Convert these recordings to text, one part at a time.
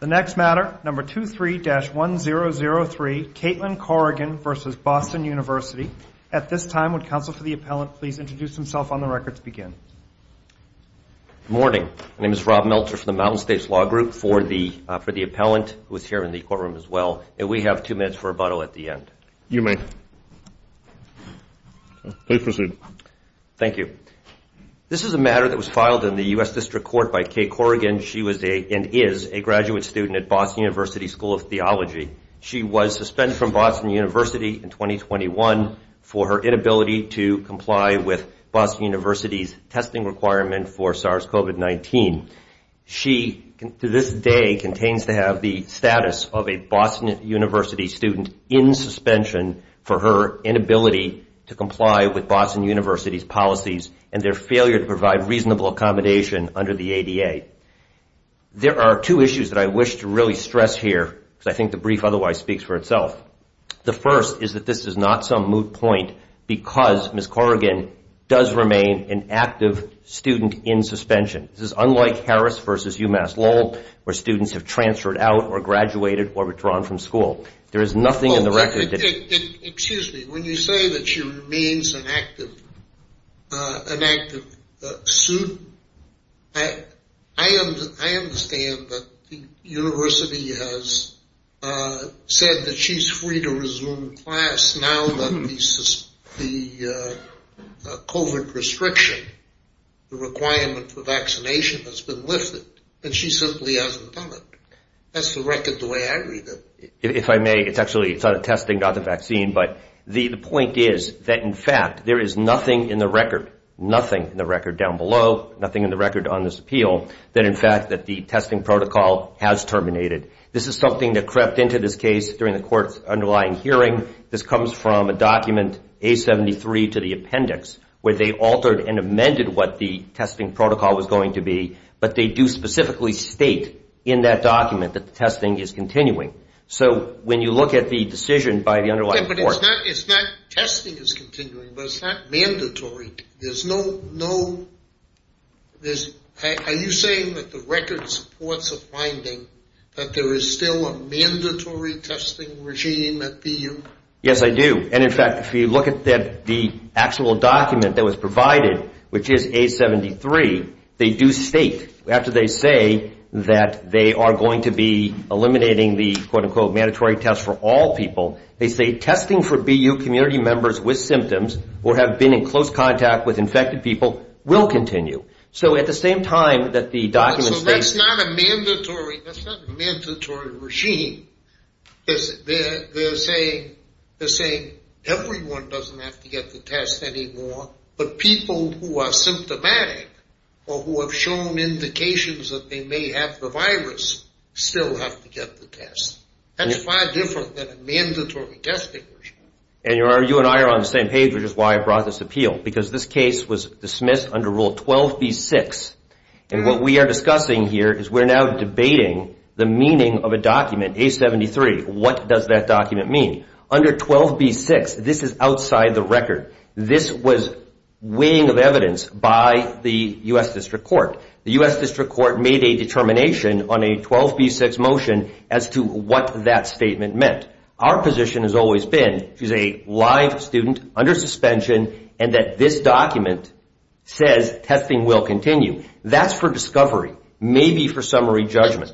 The next matter, number 23-1003, Caitlin Corrigan v. Boston University. At this time, would counsel for the appellant please introduce himself on the record to begin? Good morning. My name is Rob Meltzer from the Mountain States Law Group. For the appellant, who is here in the courtroom as well, we have two minutes for rebuttal at the end. You may. Please proceed. Thank you. This is a matter that was filed in the U.S. District Court by Kay Corrigan. She was and is a graduate student at Boston University School of Theology. She was suspended from Boston University in 2021 for her inability to comply with Boston University's testing requirement for SARS-CoV-19. She, to this day, contains to have the status of a Boston University student in suspension for her inability to comply with Boston University's policies and their failure to provide reasonable accommodation under the ADA. There are two issues that I wish to really stress here, because I think the brief otherwise speaks for itself. The first is that this is not some moot point because Ms. Corrigan does remain an active student in suspension. This is unlike Harris v. UMass Lowell, where students have transferred out or graduated or were drawn from school. Excuse me. When you say that she remains an active student, I understand that the university has said that she's free to resume class now that the COVID restriction, the requirement for vaccination has been lifted and she simply hasn't done it. That's the record the way I read it. If I may, it's actually it's out of testing, not the vaccine. But the point is that, in fact, there is nothing in the record, nothing in the record down below, nothing in the record on this appeal that in fact that the testing protocol has terminated. This is something that crept into this case during the court's underlying hearing. This comes from a document, A73 to the appendix, where they altered and amended what the testing protocol was going to be. But they do specifically state in that document that the testing is continuing. So when you look at the decision by the underlying court. But it's not it's not testing is continuing, but it's not mandatory. There's no no. Are you saying that the record supports a finding that there is still a mandatory testing regime at BU? Yes, I do. And in fact, if you look at the actual document that was provided, which is A73, they do state after they say that they are going to be eliminating the quote unquote mandatory test for all people. They say testing for BU community members with symptoms or have been in close contact with infected people will continue. So at the same time that the documents. That's not a mandatory. That's not a mandatory regime. They're saying they're saying everyone doesn't have to get the test anymore. But people who are symptomatic or who have shown indications that they may have the virus still have to get the test. That's far different than a mandatory testing regime. And you are you and I are on the same page, which is why I brought this appeal, because this case was dismissed under Rule 12B-6. And what we are discussing here is we're now debating the meaning of a document, A73. What does that document mean under 12B-6? This is outside the record. This was weighing of evidence by the U.S. District Court. The U.S. District Court made a determination on a 12B-6 motion as to what that statement meant. Our position has always been she's a live student under suspension and that this document says testing will continue. That's for discovery, maybe for summary judgment.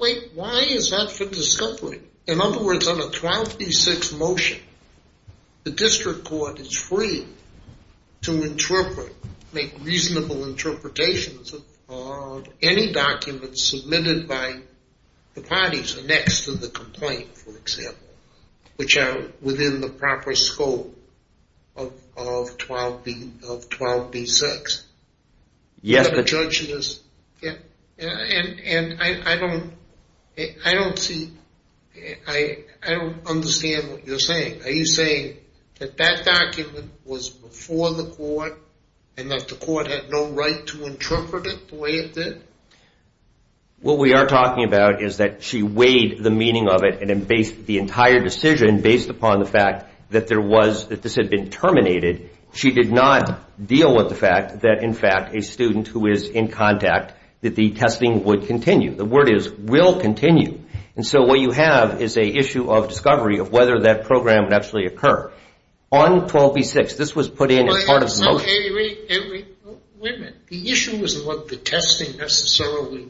Wait, why is that for discovery? In other words, on a 12B-6 motion, the district court is free to interpret, make reasonable interpretations of any documents submitted by the parties next to the complaint. For example, which are within the proper scope of 12B-6. Yes. And I don't see, I don't understand what you're saying. Are you saying that that document was before the court and that the court had no right to interpret it the way it did? What we are talking about is that she weighed the meaning of it and based the entire decision based upon the fact that there was, that this had been terminated. She did not deal with the fact that, in fact, a student who is in contact, that the testing would continue. The word is will continue. And so what you have is a issue of discovery of whether that program would actually occur. On 12B-6, this was put in as part of the motion. Wait a minute. The issue isn't what the testing necessarily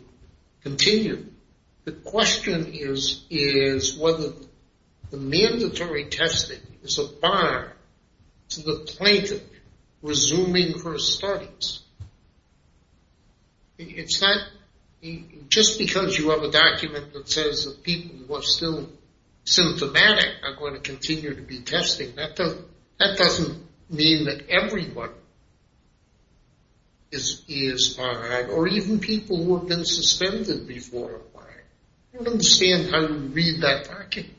continued. The question is whether the mandatory testing is a bar to the plaintiff resuming her studies. It's not just because you have a document that says that people who are still symptomatic are going to continue to be tested. That doesn't mean that everyone is fine or even people who have been suspended before are fine. I don't understand how you read that document.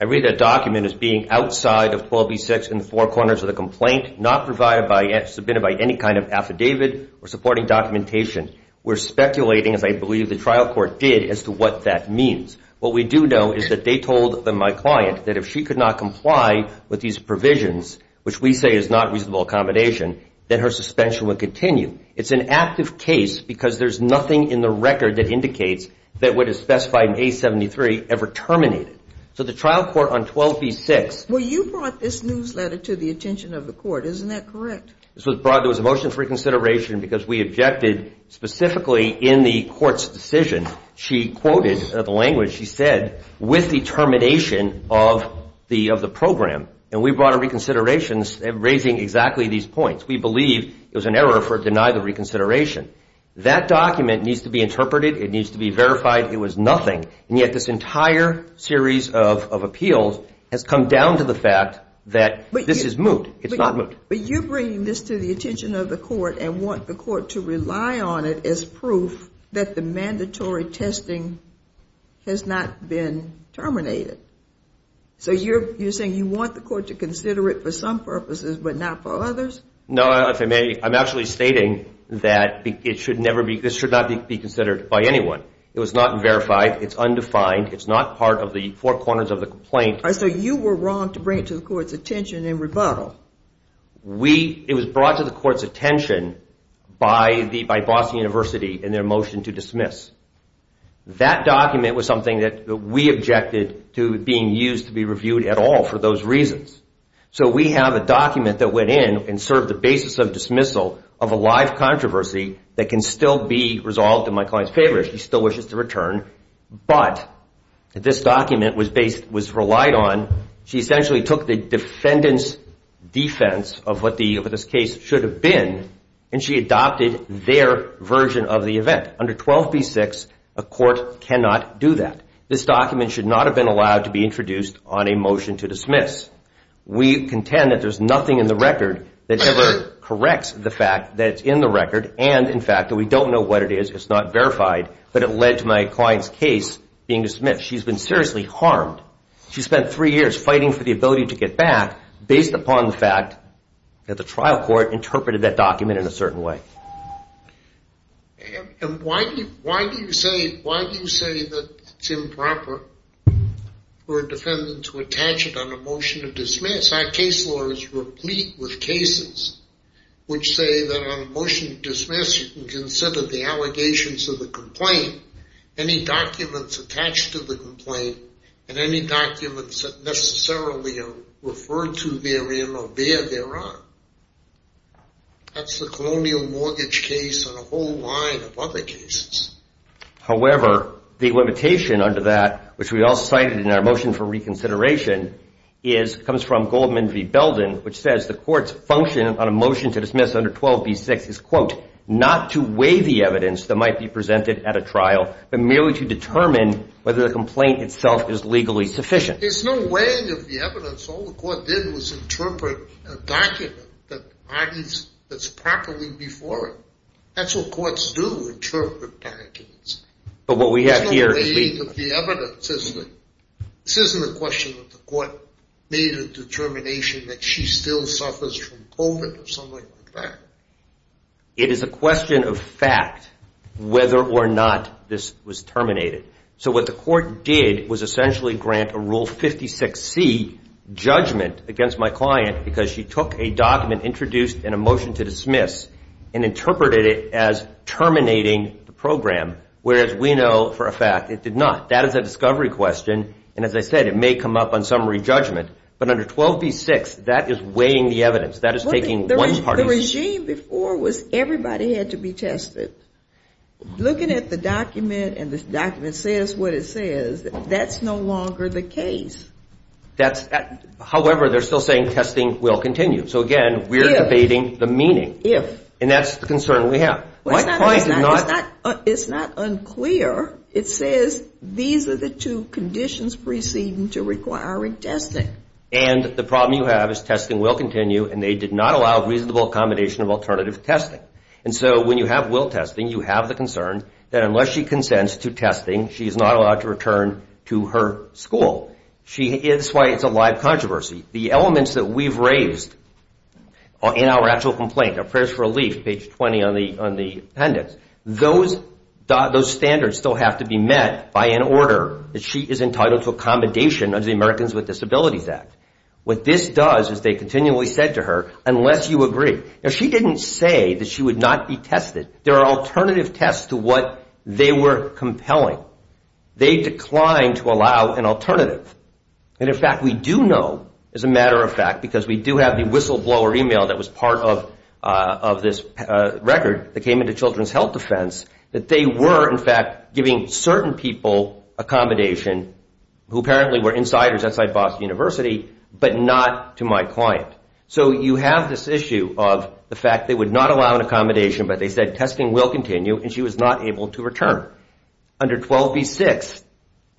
I read that document as being outside of 12B-6 in the four corners of the complaint, not provided by, submitted by any kind of affidavit or supporting documentation. We're speculating, as I believe the trial court did, as to what that means. What we do know is that they told my client that if she could not comply with these provisions, which we say is not reasonable accommodation, that her suspension would continue. It's an active case because there's nothing in the record that indicates that what is specified in A-73 ever terminated. So the trial court on 12B-6. Well, you brought this newsletter to the attention of the court. Isn't that correct? This was brought. There was a motion for reconsideration because we objected specifically in the court's decision. She quoted the language she said, with the termination of the program. And we brought a reconsideration raising exactly these points. We believe it was an error for denying the reconsideration. That document needs to be interpreted. It needs to be verified. It was nothing. And yet this entire series of appeals has come down to the fact that this is moot. It's not moot. But you're bringing this to the attention of the court and want the court to rely on it as proof that the mandatory testing has not been terminated. So you're saying you want the court to consider it for some purposes but not for others? No, if I may, I'm actually stating that this should not be considered by anyone. It was not verified. It's undefined. It's not part of the four corners of the complaint. So you were wrong to bring it to the court's attention in rebuttal. It was brought to the court's attention by Boston University in their motion to dismiss. That document was something that we objected to being used to be reviewed at all for those reasons. So we have a document that went in and served the basis of dismissal of a live controversy that can still be resolved in my client's favor. She still wishes to return, but this document was relied on. She essentially took the defendant's defense of what this case should have been, and she adopted their version of the event. Under 12b-6, a court cannot do that. This document should not have been allowed to be introduced on a motion to dismiss. We contend that there's nothing in the record that ever corrects the fact that it's in the record and, in fact, that we don't know what it is. It's not verified, but it led to my client's case being dismissed. She's been seriously harmed. She spent three years fighting for the ability to get back based upon the fact that the trial court interpreted that document in a certain way. And why do you say that it's improper for a defendant to attach it on a motion to dismiss? Our case law is replete with cases which say that on a motion to dismiss, you can consider the allegations of the complaint, any documents attached to the complaint, and any documents that necessarily are referred to therein or thereon. That's the colonial mortgage case and a whole line of other cases. However, the limitation under that, which we all cited in our motion for reconsideration, comes from Goldman v. Belden, which says the court's function on a motion to dismiss under 12b-6 is, quote, not to weigh the evidence that might be presented at a trial, but merely to determine whether the complaint itself is legally sufficient. There's no weighing of the evidence. All the court did was interpret a document that's properly before it. That's what courts do, interpret documents. There's no weighing of the evidence, is there? This isn't a question of the court made a determination that she still suffers from COVID or something like that. It is a question of fact, whether or not this was terminated. So what the court did was essentially grant a Rule 56C judgment against my client because she took a document introduced in a motion to dismiss and interpreted it as terminating the program, whereas we know for a fact it did not. That is a discovery question, and as I said, it may come up on summary judgment. But under 12b-6, that is weighing the evidence. That is taking one party's... The regime before was everybody had to be tested. Looking at the document and the document says what it says, that's no longer the case. However, they're still saying testing will continue. So, again, we're debating the meaning, and that's the concern we have. My client did not... It's not unclear. It says these are the two conditions preceding to requiring testing. And the problem you have is testing will continue, and they did not allow reasonable accommodation of alternative testing. And so when you have will testing, you have the concern that unless she consents to testing, she is not allowed to return to her school. That's why it's a live controversy. The elements that we've raised in our actual complaint, our prayers for relief, page 20 on the appendix, those standards still have to be met by an order that she is entitled to accommodation under the Americans with Disabilities Act. What this does is they continually said to her, unless you agree... Now, she didn't say that she would not be tested. There are alternative tests to what they were compelling. They declined to allow an alternative. And, in fact, we do know, as a matter of fact, because we do have the whistleblower e-mail that was part of this record that came into Children's Health Defense, that they were, in fact, giving certain people accommodation, who apparently were insiders outside Boston University, but not to my client. So you have this issue of the fact they would not allow an accommodation, but they said testing will continue, and she was not able to return. Under 12b-6,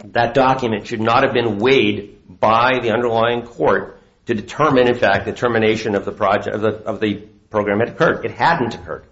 that document should not have been weighed by the underlying court to determine, in fact, the termination of the program had occurred. It hadn't occurred.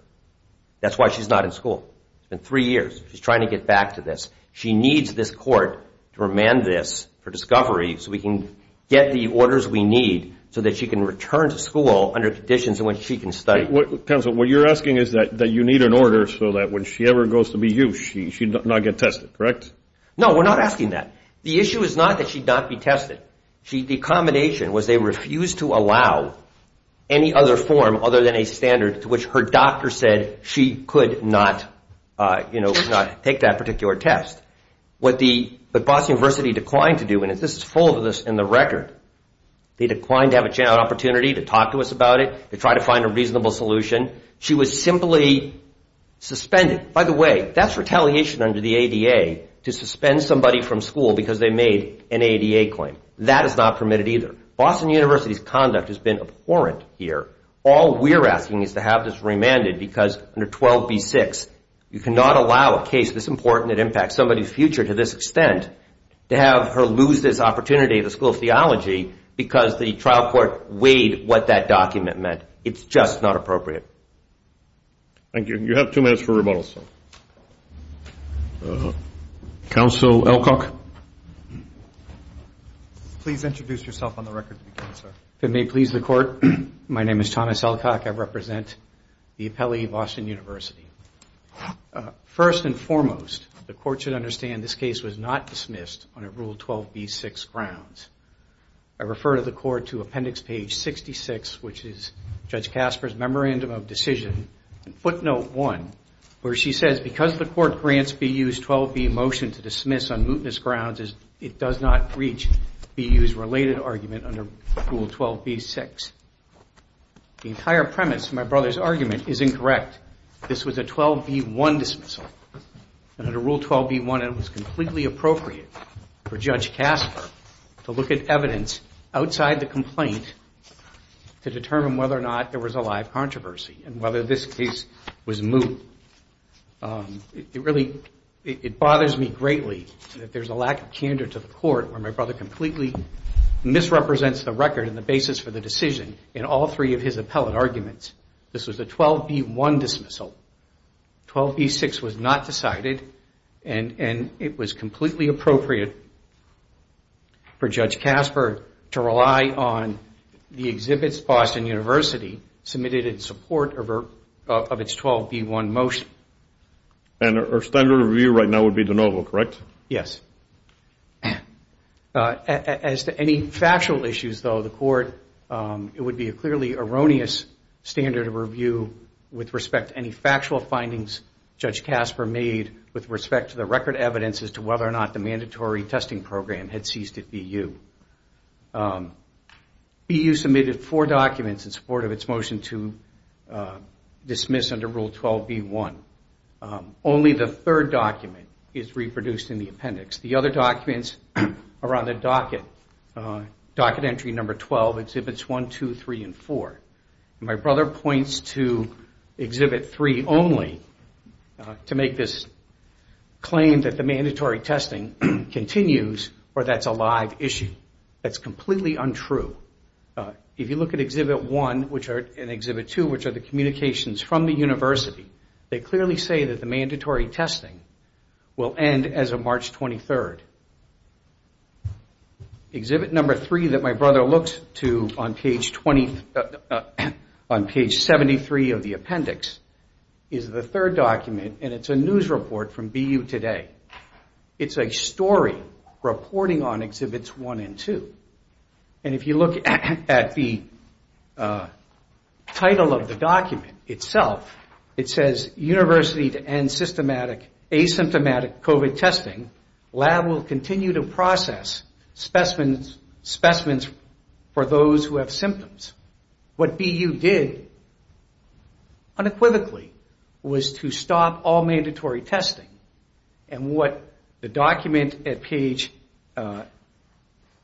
That's why she's not in school. It's been three years. She's trying to get back to this. She needs this court to remand this for discovery so we can get the orders we need so that she can return to school under conditions in which she can study. Counsel, what you're asking is that you need an order so that when she ever goes to BU, she does not get tested, correct? No, we're not asking that. The issue is not that she'd not be tested. The accommodation was they refused to allow any other form other than a standard to which her doctor said she could not, you know, take that particular test. What Boston University declined to do, and this is full of this in the record, they declined to have a chance, an opportunity to talk to us about it, to try to find a reasonable solution. She was simply suspended. By the way, that's retaliation under the ADA to suspend somebody from school because they made an ADA claim. That is not permitted either. Boston University's conduct has been abhorrent here. All we're asking is to have this remanded because under 12b-6, you cannot allow a case this important that impacts somebody's future to this extent to have her lose this opportunity at the School of Theology because the trial court weighed what that document meant. It's just not appropriate. Thank you. You have two minutes for rebuttal, sir. Please introduce yourself on the record to begin, sir. If it may please the Court, my name is Thomas Elcock. I represent the appellee, Boston University. First and foremost, the Court should understand this case was not dismissed under Rule 12b-6, Grounds. I refer to the Court to Appendix Page 66, which is Judge Casper's Memorandum of Decision, Footnote 1, where she says because the Court grants BU's 12b motion to dismiss on mootness grounds, it does not reach BU's related argument under Rule 12b-6. The entire premise of my brother's argument is incorrect. This was a 12b-1 dismissal. Under Rule 12b-1, it was completely appropriate for Judge Casper to look at evidence outside the complaint to determine whether or not there was a live controversy and whether this case was moot. It really bothers me greatly that there's a lack of candor to the Court where my brother completely misrepresents the record and the basis for the decision in all three of his appellate arguments. This was a 12b-1 dismissal. 12b-6 was not decided, and it was completely appropriate for Judge Casper to rely on the exhibits Boston University submitted in support of its 12b-1 motion. And our standard of review right now would be de novo, correct? Yes. As to any factual issues, though, the Court, it would be a clearly erroneous standard of review with respect to any factual findings Judge Casper made with respect to the record evidence as to whether or not the mandatory testing program had ceased at BU. BU submitted four documents in support of its motion to dismiss under Rule 12b-1. Only the third document is reproduced in the appendix. The other documents are on the docket. Docket entry number 12 exhibits 1, 2, 3, and 4. My brother points to exhibit 3 only to make this claim that the mandatory testing continues or that's a live issue. That's completely untrue. If you look at exhibit 1 and exhibit 2, which are the communications from the university, they clearly say that the mandatory testing will end as of March 23rd. Exhibit number 3 that my brother looks to on page 73 of the appendix is the third document, and it's a news report from BU Today. It's a story reporting on exhibits 1 and 2. And if you look at the title of the document itself, it says, University to end systematic asymptomatic COVID testing. Lab will continue to process specimens for those who have symptoms. What BU did unequivocally was to stop all mandatory testing. And what the document at page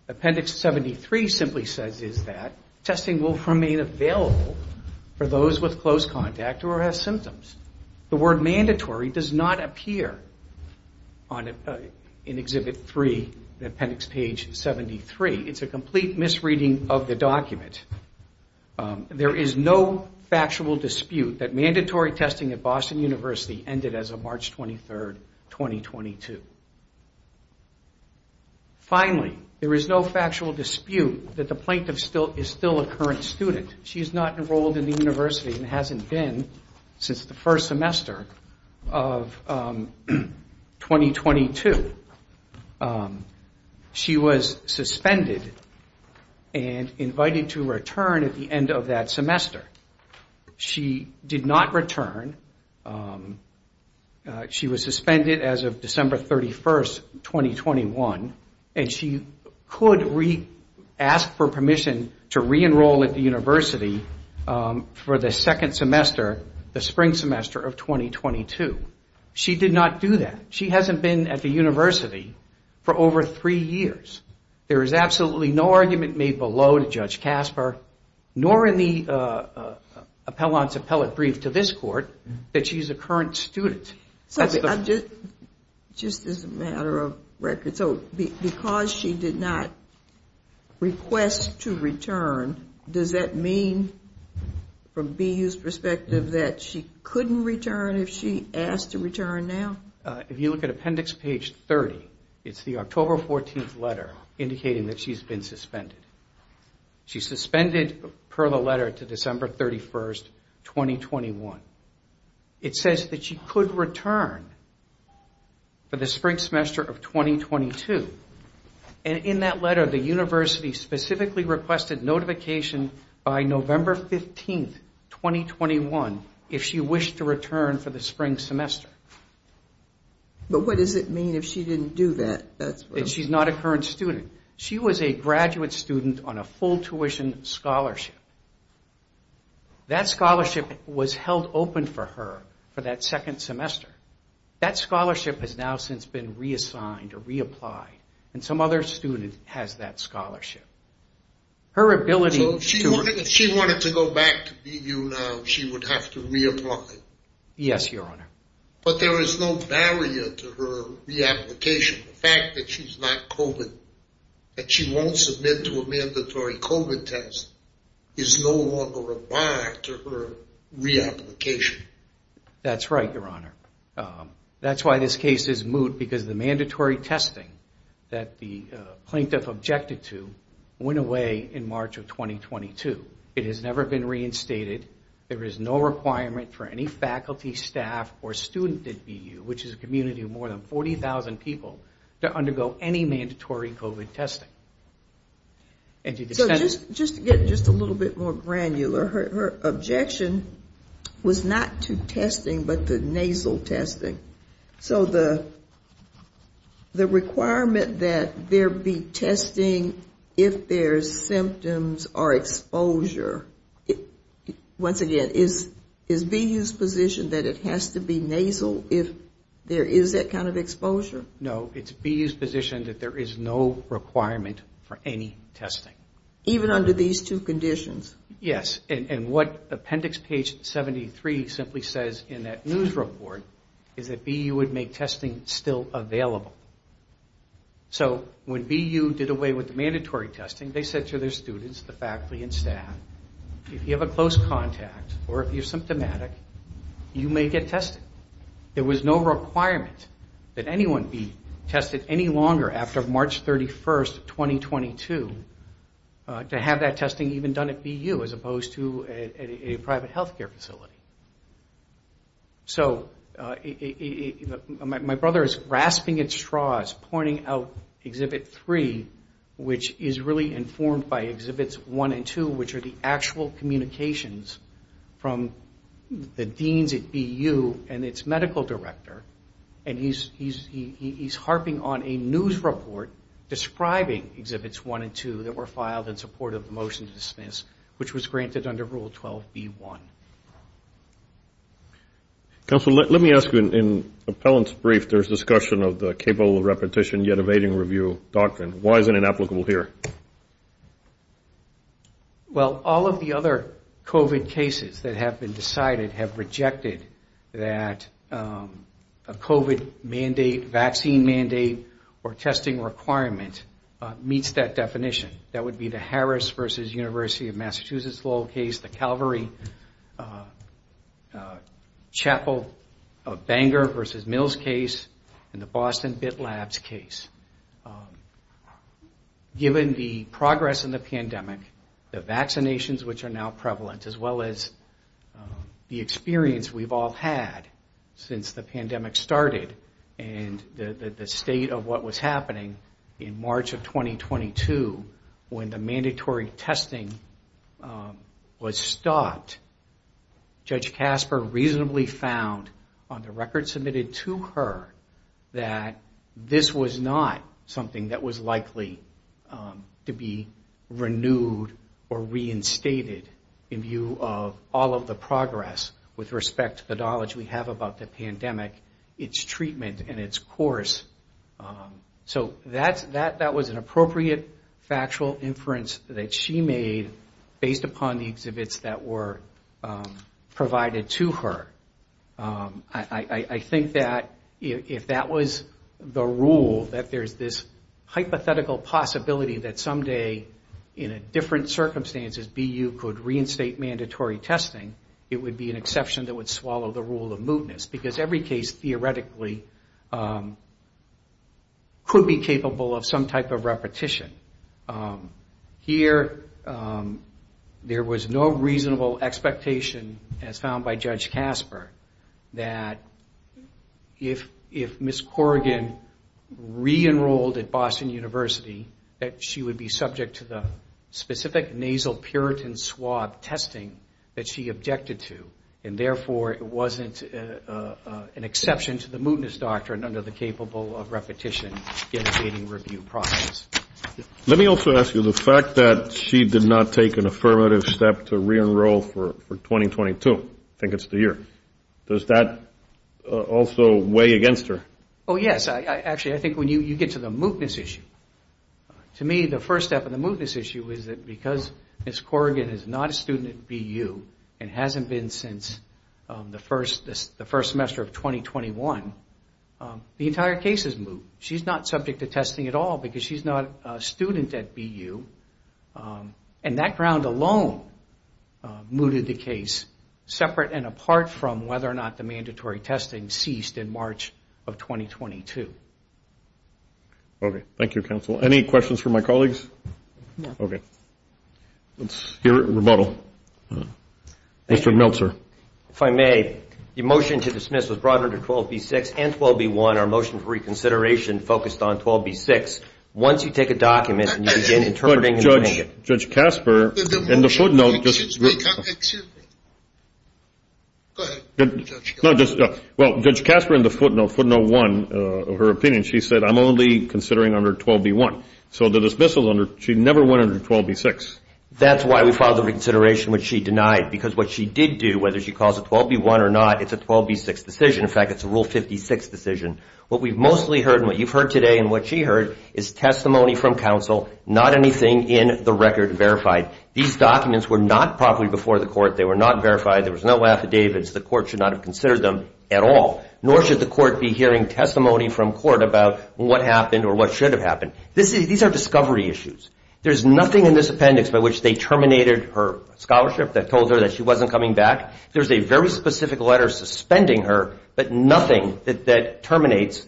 appendix 73 simply says is that testing will remain available for those with close contact or who have symptoms. The word mandatory does not appear in exhibit 3, appendix page 73. It's a complete misreading of the document. There is no factual dispute that mandatory testing at Boston University ended as of March 23rd, 2022. Finally, there is no factual dispute that the plaintiff is still a current student. She's not enrolled in the university and hasn't been since the first semester of 2022. She was suspended and invited to return at the end of that semester. She did not return. She was suspended as of December 31st, 2021. And she could ask for permission to re-enroll at the university for the second semester, the spring semester of 2022. She did not do that. She hasn't been at the university for over three years. There is absolutely no argument made below to Judge Casper, nor in the appellant's appellate brief to this court, that she's a current student. Just as a matter of record, because she did not request to return, does that mean, from BU's perspective, that she couldn't return if she asked to return now? If you look at appendix page 30, it's the October 14th letter indicating that she's been suspended. She's suspended per the letter to December 31st, 2021. It says that she could return for the spring semester of 2022. And in that letter, the university specifically requested notification by November 15th, 2021, if she wished to return for the spring semester. But what does it mean if she didn't do that? She's not a current student. She was a graduate student on a full tuition scholarship. That scholarship was held open for her for that second semester. That scholarship has now since been reassigned or reapplied. And some other student has that scholarship. So if she wanted to go back to BU now, she would have to reapply? Yes, Your Honor. But there is no barrier to her reapplication. The fact that she's not COVID, that she won't submit to a mandatory COVID test, is no longer a bar to her reapplication. That's right, Your Honor. That's why this case is moot, because the mandatory testing that the plaintiff objected to went away in March of 2022. It has never been reinstated. There is no requirement for any faculty, staff, or student at BU, which is a community of more than 40,000 people, to undergo any mandatory COVID testing. So just to get just a little bit more granular, her objection was not to testing, but to nasal testing. So the requirement that there be testing if there's symptoms or exposure, once again, is BU's position that it has to be nasal if there is that kind of exposure? No, it's BU's position that there is no requirement for any testing. Even under these two conditions? Yes, and what Appendix Page 73 simply says in that news report is that BU would make testing still available. So when BU did away with the mandatory testing, they said to their students, the faculty, and staff, if you have a close contact or if you're symptomatic, you may get tested. There was no requirement that anyone be tested any longer after March 31, 2022, to have that testing even done at BU as opposed to a private health care facility. So my brother is grasping at straws, pointing out Exhibit 3, which is really informed by Exhibits 1 and 2, which are the actual communications from the deans at BU and its medical director, and he's harping on a news report describing Exhibits 1 and 2 that were filed in support of the motion to dismiss, which was granted under Rule 12b-1. Counsel, let me ask you, in Appellant's brief, there's discussion of the capable of repetition yet evading review doctrine. Why is it inapplicable here? Well, all of the other COVID cases that have been decided have rejected that a COVID mandate, vaccine mandate, or testing requirement meets that definition. That would be the Harris v. University of Massachusetts Lowell case, the Calvary-Chapel-Banger v. Mills case, and the Boston Bit Labs case. Given the progress in the pandemic, the vaccinations which are now prevalent, as well as the experience we've all had since the pandemic started and the state of what was happening in March of 2022 when the mandatory testing was stopped, Judge Casper reasonably found on the record submitted to her that this was not something that was likely to be renewed or reinstated in view of all of the progress with respect to the knowledge we have about the pandemic. It's treatment and its course. So that was an appropriate factual inference that she made based upon the exhibits that were provided to her. I think that if that was the rule, that there's this hypothetical possibility that someday, in different circumstances, BU could reinstate mandatory testing, it would be an exception that would swallow the rule of mootness. Because every case, theoretically, could be capable of some type of repetition. Here, there was no reasonable expectation, as found by Judge Casper, that if Ms. Corrigan re-enrolled at Boston University, that she would be subject to the specific nasal puritan swab testing that she objected to. And therefore, it wasn't an exception to the mootness doctrine under the capable of repetition generating review process. Let me also ask you, the fact that she did not take an affirmative step to re-enroll for 2022, I think it's the year, does that also weigh against her? Oh, yes. Actually, I think when you get to the mootness issue, to me, the first step of the mootness issue is that because Ms. Corrigan is not a student at BU and hasn't been since the first semester of 2021, the entire case is moot. She's not subject to testing at all because she's not a student at BU. And that ground alone mooted the case, separate and apart from whether or not the mandatory testing ceased in March of 2022. Okay. Thank you, counsel. Any questions for my colleagues? No. Okay. Let's hear a rebuttal. Mr. Meltzer. If I may, the motion to dismiss was brought under 12B-6 and 12B-1. Our motion for reconsideration focused on 12B-6. Once you take a document and you begin interpreting and doing it. Judge Casper, in the footnote, just go ahead. Well, Judge Casper in the footnote, footnote one of her opinion, she said, I'm only considering under 12B-1. So the dismissal, she never went under 12B-6. That's why we filed the reconsideration, which she denied. Because what she did do, whether she calls it 12B-1 or not, it's a 12B-6 decision. In fact, it's a Rule 56 decision. What we've mostly heard and what you've heard today and what she heard is testimony from counsel, not anything in the record verified. These documents were not properly before the court. They were not verified. There was no affidavits. The court should not have considered them at all. Nor should the court be hearing testimony from court about what happened or what should have happened. These are discovery issues. There's nothing in this appendix by which they terminated her scholarship that told her that she wasn't coming back. There's a very specific letter suspending her, but nothing that terminates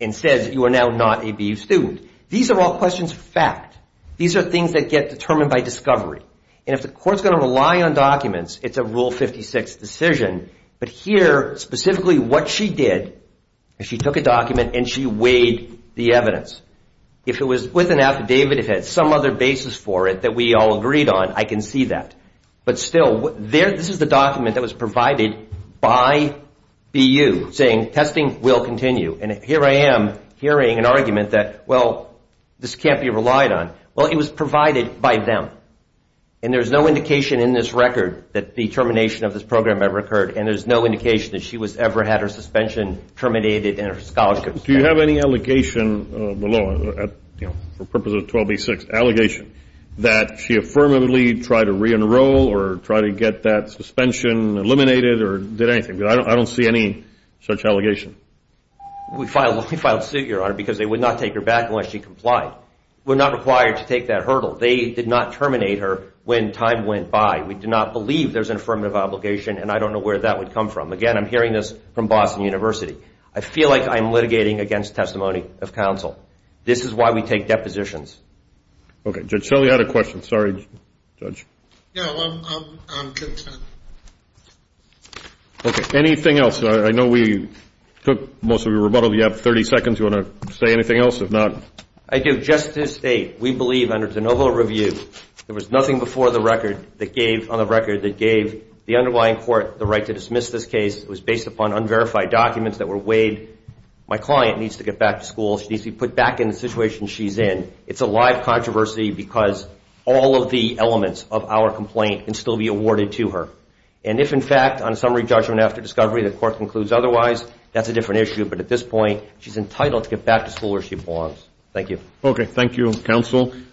and says you are now not a BU student. These are all questions of fact. These are things that get determined by discovery. And if the court's going to rely on documents, it's a Rule 56 decision. But here, specifically what she did is she took a document and she weighed the evidence. If it was with an affidavit, if it had some other basis for it that we all agreed on, I can see that. But still, this is the document that was provided by BU saying testing will continue. And here I am hearing an argument that, well, this can't be relied on. Well, it was provided by them. And there's no indication in this record that the termination of this program ever occurred, and there's no indication that she ever had her suspension terminated and her scholarship suspended. Do you have any allegation below, for the purpose of 12B6, allegation that she affirmatively tried to re-enroll or try to get that suspension eliminated or did anything? Because I don't see any such allegation. We filed a suit, Your Honor, because they would not take her back unless she complied. We're not required to take that hurdle. They did not terminate her when time went by. We do not believe there's an affirmative obligation, and I don't know where that would come from. Again, I'm hearing this from Boston University. I feel like I'm litigating against testimony of counsel. This is why we take depositions. Okay. Judge Selle, you had a question. Sorry, Judge. No, I'm good. Okay. Anything else? I know we took most of your rebuttal. You have 30 seconds. You want to say anything else? If not. I do. In a suggestive state, we believe under de novo review, there was nothing before the record that gave the underlying court the right to dismiss this case. It was based upon unverified documents that were weighed. My client needs to get back to school. She needs to be put back in the situation she's in. It's a live controversy because all of the elements of our complaint can still be awarded to her. And if, in fact, on summary judgment after discovery, the court concludes otherwise, that's a different issue. But at this point, she's entitled to get back to school where she belongs. Thank you. Okay. Thank you, counsel.